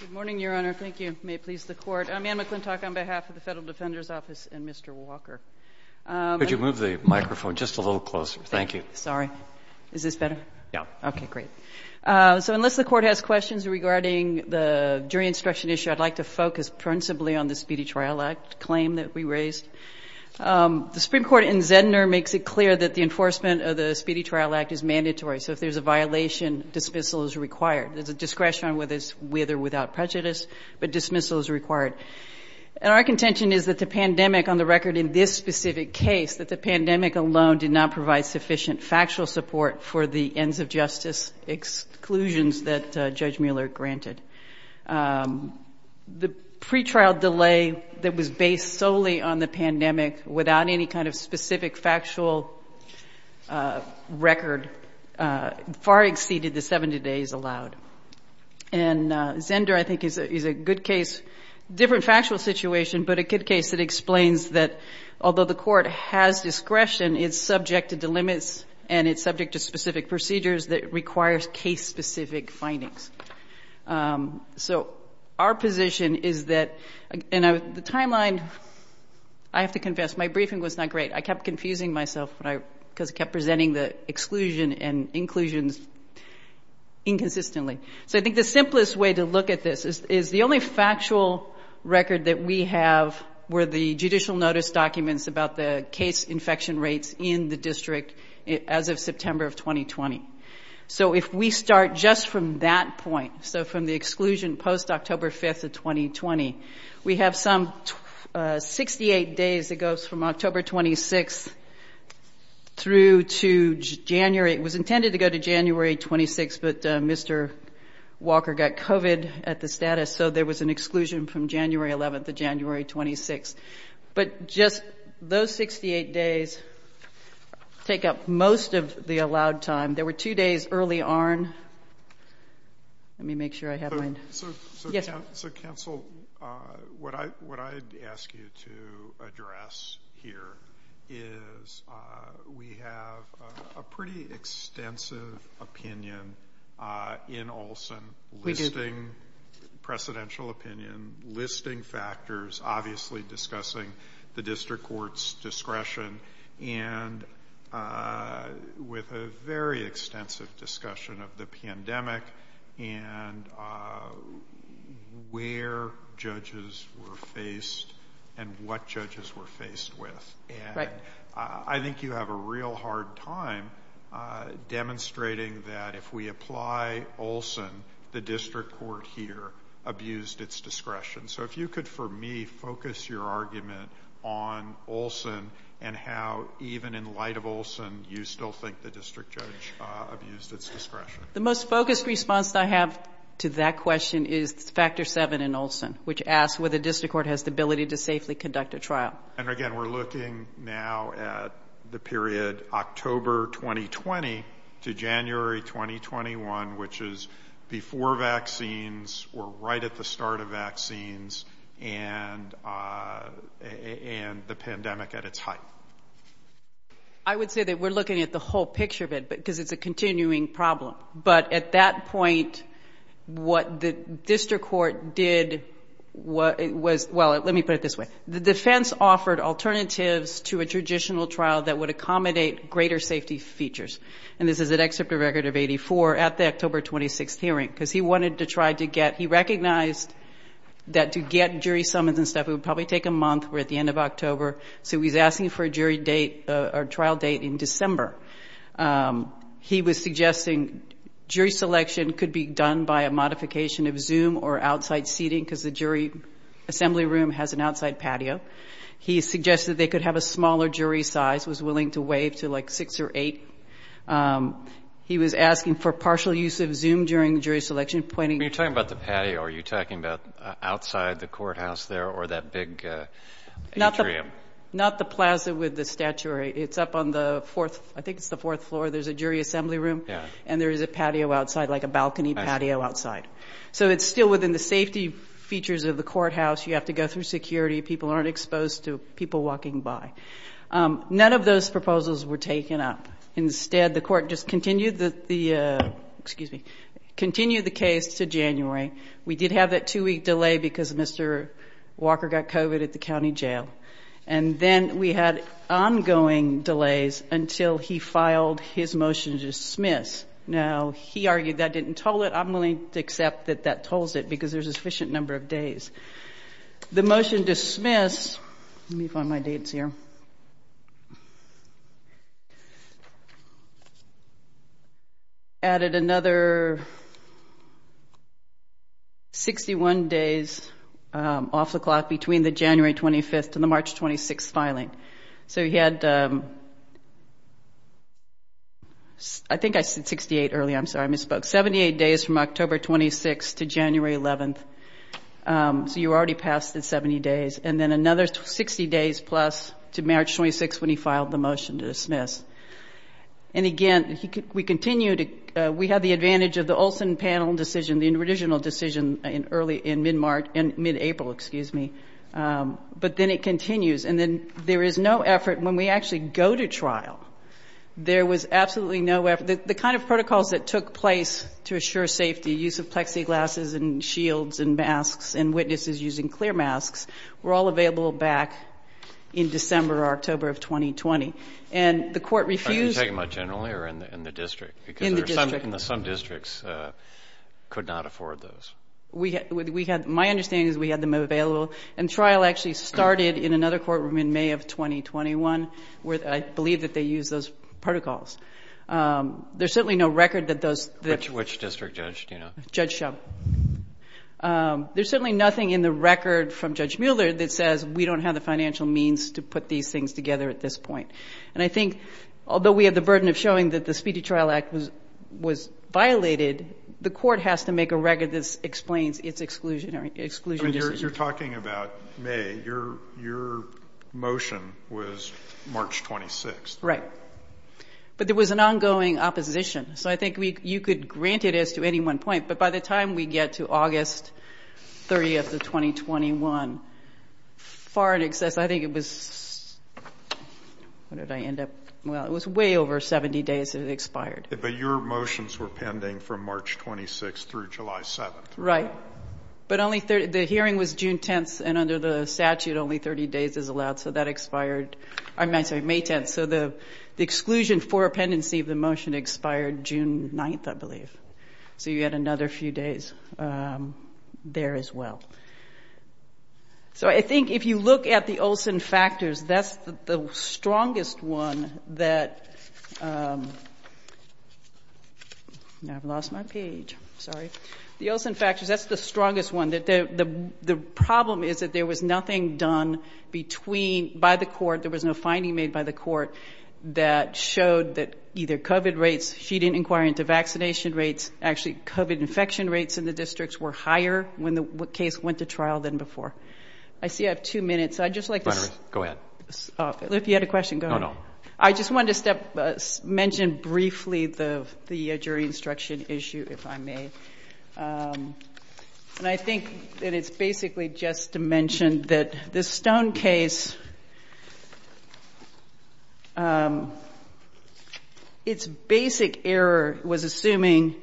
Good morning, Your Honor. Thank you. May it please the Court. I'm Anne McClintock on behalf of the Federal Defender's Office and Mr. Walker. Could you move the microphone just a little closer? Thank you. Sorry. Is this better? Yeah. Okay, great. So unless the Court has questions regarding the jury instruction issue, I'd like to focus principally on the Speedy Trial Act claim that we raised. The Supreme Court in Zedner makes it clear that the enforcement of the Speedy Trial Act is mandatory. So if there's a violation, dismissal is required. There's a discretion on whether it's with or without prejudice, but dismissal is required. And our contention is that the pandemic on the record in this specific case, that the pandemic alone did not provide sufficient factual support for the ends of justice exclusions that Judge Mueller granted. The pretrial delay that was based solely on the pandemic without any kind of specific factual record far exceeded the 70 days allowed. And Zedner, I think, is a good case, different factual situation, but a good case that explains that although the Court has discretion, it's subject to delimits and it's subject to specific procedures that requires case-specific findings. So our position is that, and the timeline, I have to confess, my briefing was not great. I kept confusing myself because I kept presenting the exclusion and inclusions inconsistently. So I think the simplest way to look at this is the only factual record that we have were the judicial notice documents about the case infection rates in the district as of September of 2020. So if we start just from that point, so from the exclusion, post-October 5th of 2020, we have some 68 days that goes from October 26th through to January. It was intended to go to January 26th, but Mr. Walker got COVID at the status, so there was an exclusion from January 11th to January 26th. But just those 68 days take up most of the allowed time. There were two days early on. Let me make sure I have mine. Yes, sir. So, counsel, what I'd ask you to address here is we have a pretty extensive opinion in Olson listing precedential opinion, listing factors, obviously discussing the district court's discretion, and with a very extensive discussion of the pandemic and where judges were faced and what judges were faced with. And I think you have a real hard time demonstrating that if we apply Olson, the district court here abused its discretion. So if you could, for me, focus your argument on Olson and how even in light of Olson, you still think the district judge abused its discretion. The most focused response I have to that question is factor seven in Olson, which asks whether the district court has the ability to safely conduct a trial. And again, we're looking now at the period October 2020 to January 2021, and we're looking at the period October 2020 to January 2021. I would say that we're looking at the whole picture of it because it's a continuing problem. But at that point, what the district court did was well, let me put it this way. The defense offered alternatives to a traditional trial that would accommodate greater safety features. And this is an excerpt of record of 84 at the October 26th hearing because he wanted to try to get he jury summons and stuff. It would probably take a month. We're at the end of October. So he's asking for a jury date or trial date in December. He was suggesting jury selection could be done by a modification of Zoom or outside seating because the jury assembly room has an outside patio. He suggested they could have a smaller jury size, was willing to waive to like six or eight. He was asking for partial use of Zoom during jury selection. Are you talking about the patio? Are you talking about outside the courthouse there or that big atrium? Not the plaza with the statue. It's up on the fourth. I think it's the fourth floor. There's a jury assembly room and there is a patio outside like a balcony patio outside. So it's still within the safety features of the courthouse. You have to go through security. People aren't exposed to people walking by. None of those proposals were taken up. Instead, the court just continued the excuse me, continue the case to January. We did have that two week delay because Mr. Walker got covered at the county jail. And then we had ongoing delays until he filed his motion to dismiss. Now, he argued that didn't tell it. I'm willing to accept that that tells it because there's a sufficient number of days. The motion to dismiss, let me find my dates here, added another 61 days off the clock between the January 25th and the March 26th filing. So he had, I think I said 68 early. I'm sorry. I misspoke. And then another 60 days from October 26th to January 11th. So you already passed the 70 days. And then another 60 days plus to March 26th when he filed the motion to dismiss. And again, we continue to we have the advantage of the Olson panel decision, the original decision in early in mid-April. Excuse me. But then it continues. And then there is no effort when we actually go to trial. There was absolutely no effort. The kind of protocols that took place to assure safety, use of plexiglass and shields and masks and witnesses using clear masks were all available back in December or October of 2020. And the court refused. Are you talking about generally or in the district? In the district. Because some districts could not afford those. We had my understanding is we had them available. And trial actually started in another courtroom in May of 2021 where I believe that they use those protocols. There's certainly no record that those which which district judge, you know, Judge Shum. There's certainly nothing in the record from Judge Mueller that says we don't have the financial means to put these things together at this point. And I think although we have the burden of showing that the Speedy Trial Act was was violated. The court has to make a record. This explains its exclusionary exclusion. You're talking about May. Your your motion was March 26th. Right. But there was an ongoing opposition. So I think you could grant it as to any one point. But by the time we get to August 30th of 2021, far in excess, I think it was. What did I end up? Well, it was way over 70 days. It expired. But your motions were pending from March 26th through July 7th. Right. But only the hearing was June 10th. And under the statute, only 30 days is allowed. So that expired. I'm sorry. May 10th. So the exclusion for pendency of the motion expired June 9th, I believe. So you had another few days there as well. So I think if you look at the Olson factors, that's the strongest one that. I've lost my page. Sorry. The Olson factors. That's the strongest one. The problem is that there was nothing done between by the court. There was no finding made by the court that showed that either covered rates. She didn't inquire into vaccination rates, actually covered infection rates in the districts were higher when the case went to trial than before. I see I have two minutes. I just like to go ahead. If you had a question. I just want to mention briefly the jury instruction issue, if I may. And I think that it's basically just to mention that the Stone case. Its basic error was assuming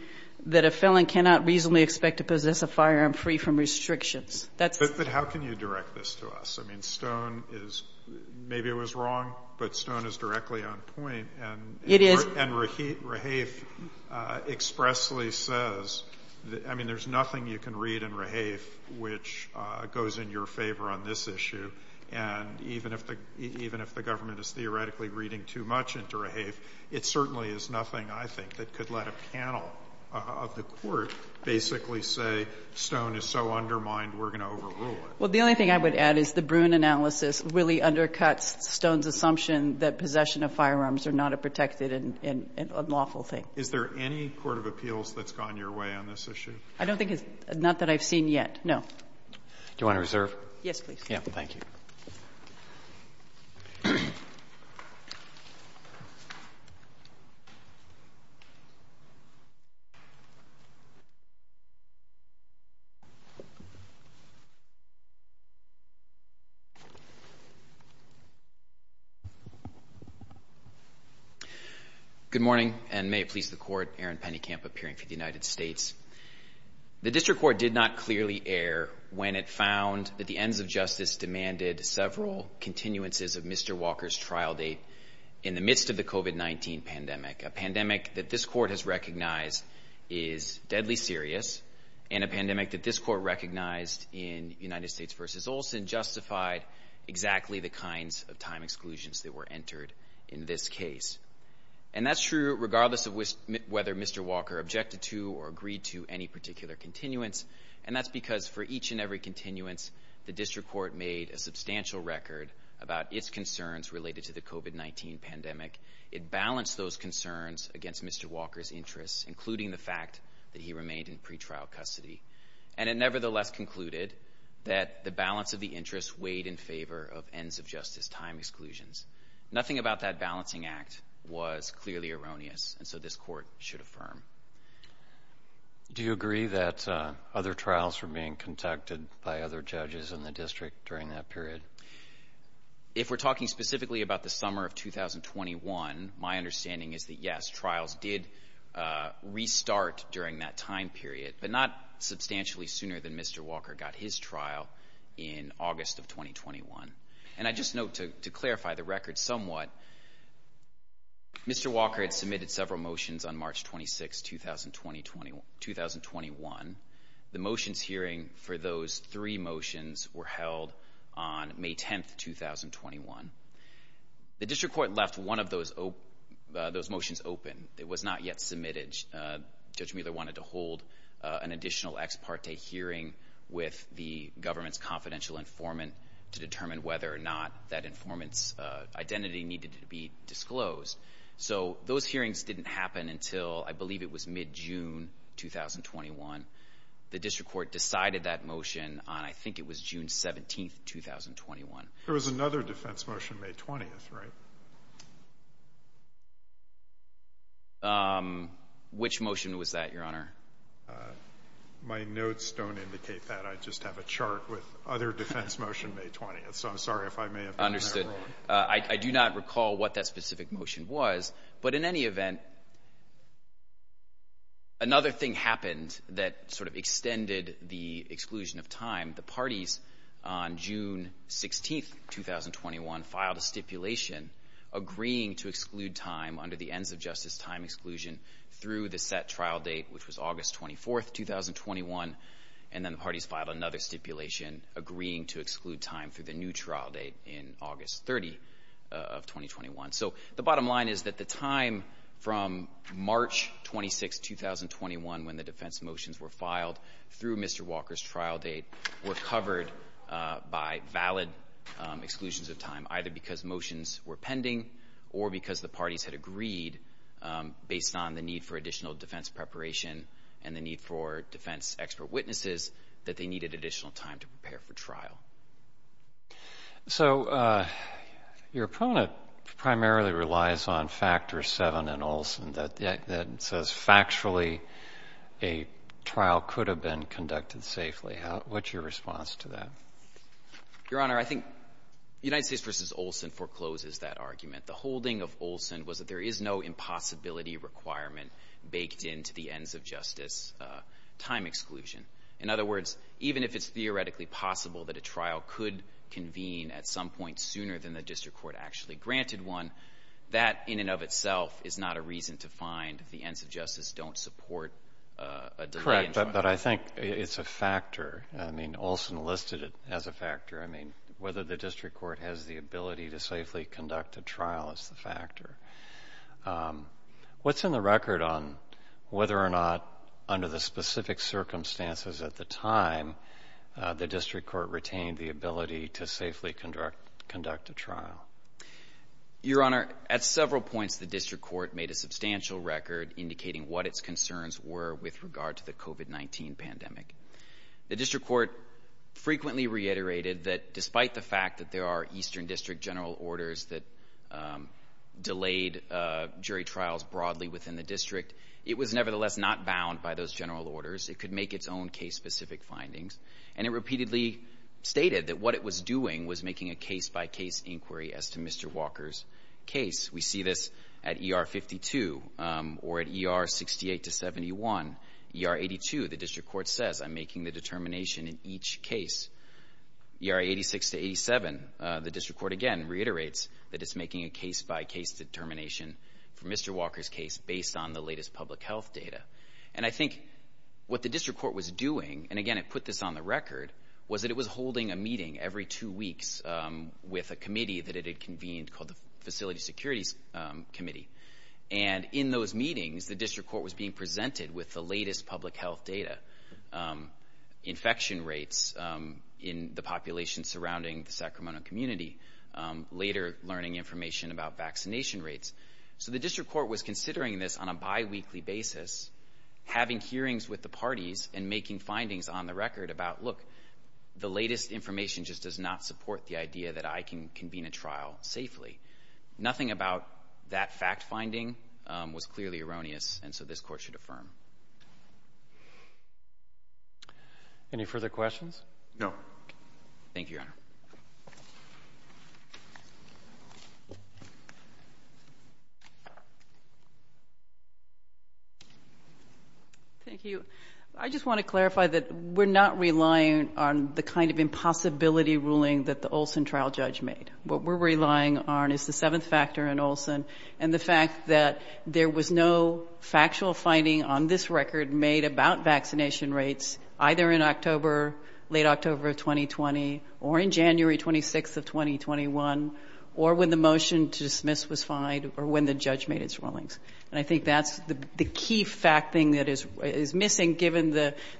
that a felon cannot reasonably expect to possess a firearm free from restrictions. That's how can you direct this to us? I mean, Stone is maybe it was wrong, but Stone is directly on point. And it is. And Raheith expressly says, I mean, there's nothing you can read in Raheith, which goes in your favor on this issue. And even if the even if the government is theoretically reading too much into Raheith, it certainly is nothing, I think, that could let a panel of the court basically say Stone is so undermined we're going to overrule it. Well, the only thing I would add is the Bruin analysis really undercuts Stone's assumption that possession of firearms are not a protected and unlawful thing. Is there any court of appeals that's gone your way on this issue? I don't think it's not that I've seen yet. No. Do you want to reserve? Yes, please. Thank you. Thank you. Good morning, and may it please the court. Aaron Pennekamp, appearing for the United States. The district court did not clearly air when it found that the ends of justice demanded several continuances of Mr. Walker's trial date in the midst of the COVID-19 pandemic, a pandemic that this court has recognized is deadly serious and a pandemic that this court recognized in United States versus Olson justified exactly the kinds of time exclusions that were entered in this case. And that's true regardless of whether Mr. Walker objected to or agreed to any particular continuance, and that's because for each and every continuance, the district court made a substantial record about its concerns related to the COVID-19 pandemic. It balanced those concerns against Mr. Walker's interests, including the fact that he remained in pretrial custody, and it nevertheless concluded that the balance of the interests weighed in favor of ends of justice time exclusions. Nothing about that balancing act was clearly erroneous, and so this court should affirm. Do you agree that other trials were being conducted by other judges in the district during that period? If we're talking specifically about the summer of 2021, my understanding is that, yes, trials did restart during that time period, but not substantially sooner than Mr. Walker got his trial in August of 2021. And I just note to clarify the record somewhat, Mr. Walker had submitted several motions on March 26, 2021. The motions hearing for those three motions were held on May 10, 2021. The district court left one of those motions open. It was not yet submitted. Judge Mueller wanted to hold an additional ex parte hearing with the government's confidential informant to determine whether or not that informant's identity needed to be disclosed. So those hearings didn't happen until I believe it was mid-June 2021. The district court decided that motion on I think it was June 17, 2021. There was another defense motion May 20th, right? Which motion was that, Your Honor? My notes don't indicate that. I just have a chart with other defense motion May 20th. So I'm sorry if I may have been wrong. Understood. I do not recall what that specific motion was. But in any event, another thing happened that sort of extended the exclusion of time. The parties on June 16, 2021, filed a stipulation agreeing to exclude time under the ends of justice time exclusion through the set trial date, which was August 24, 2021. And then the parties filed another stipulation agreeing to exclude time through the new trial date in August 30 of 2021. So the bottom line is that the time from March 26, 2021, when the defense motions were filed through Mr. Walker's trial date, were covered by valid exclusions of time, either because motions were pending or because the parties had agreed, based on the need for additional defense preparation and the need for defense expert witnesses, that they needed additional time to prepare for trial. So your opponent primarily relies on Factor 7 in Olson that says factually a trial could have been conducted safely. What's your response to that? Your Honor, I think United States v. Olson forecloses that argument. The holding of Olson was that there is no impossibility requirement baked into the ends of justice time exclusion. In other words, even if it's theoretically possible that a trial could convene at some point sooner than the district court actually granted one, that in and of itself is not a reason to find the ends of justice don't support a delay in trial. But I think it's a factor. I mean, Olson listed it as a factor. I mean, whether the district court has the ability to safely conduct a trial is the factor. What's in the record on whether or not under the specific circumstances at the time the district court retained the ability to safely conduct a trial? Your Honor, at several points the district court made a substantial record indicating what its concerns were with regard to the COVID-19 pandemic. The district court frequently reiterated that despite the fact that there are eastern district general orders that delayed jury trials broadly within the district, it was nevertheless not bound by those general orders. It could make its own case-specific findings. And it repeatedly stated that what it was doing was making a case-by-case inquiry as to Mr. Walker's case. We see this at ER 52 or at ER 68 to 71. ER 82, the district court says, I'm making the determination in each case. ER 86 to 87, the district court again reiterates that it's making a case-by-case determination for Mr. Walker's case based on the latest public health data. And I think what the district court was doing, and, again, it put this on the record, was that it was holding a meeting every two weeks with a committee that it had convened called the Facility Securities Committee. And in those meetings, the district court was being presented with the latest public health data, infection rates in the population surrounding the Sacramento community, later learning information about vaccination rates. So the district court was considering this on a biweekly basis, having hearings with the parties and making findings on the record about, look, the latest information just does not support the idea that I can convene a trial safely. Nothing about that fact-finding was clearly erroneous, and so this Court should affirm. Any further questions? Thank you, Your Honor. Thank you. I just want to clarify that we're not relying on the kind of impossibility ruling that the Olson trial judge made. What we're relying on is the seventh factor in Olson, and the fact that there was no factual finding on this record made about vaccination rates, either in October, late October of 2020, or in January 26th of 2021, or when the motion to dismiss was fined or when the judge made its rulings. And I think that's the key fact thing that is missing, given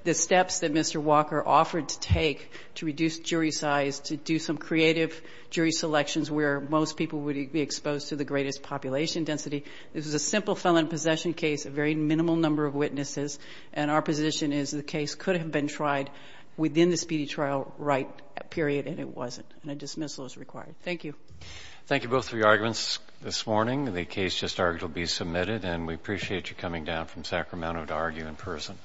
the steps that Mr. Walker offered to take to reduce jury size, to do some creative jury selections where most people would be exposed to the greatest population density. This is a simple felon possession case, a very minimal number of witnesses, and our position is the case could have been tried within the speedy trial right period, and it wasn't, and a dismissal is required. Thank you. Thank you both for your arguments this morning. The case just argued will be submitted, and we appreciate you coming down from Sacramento to argue in person.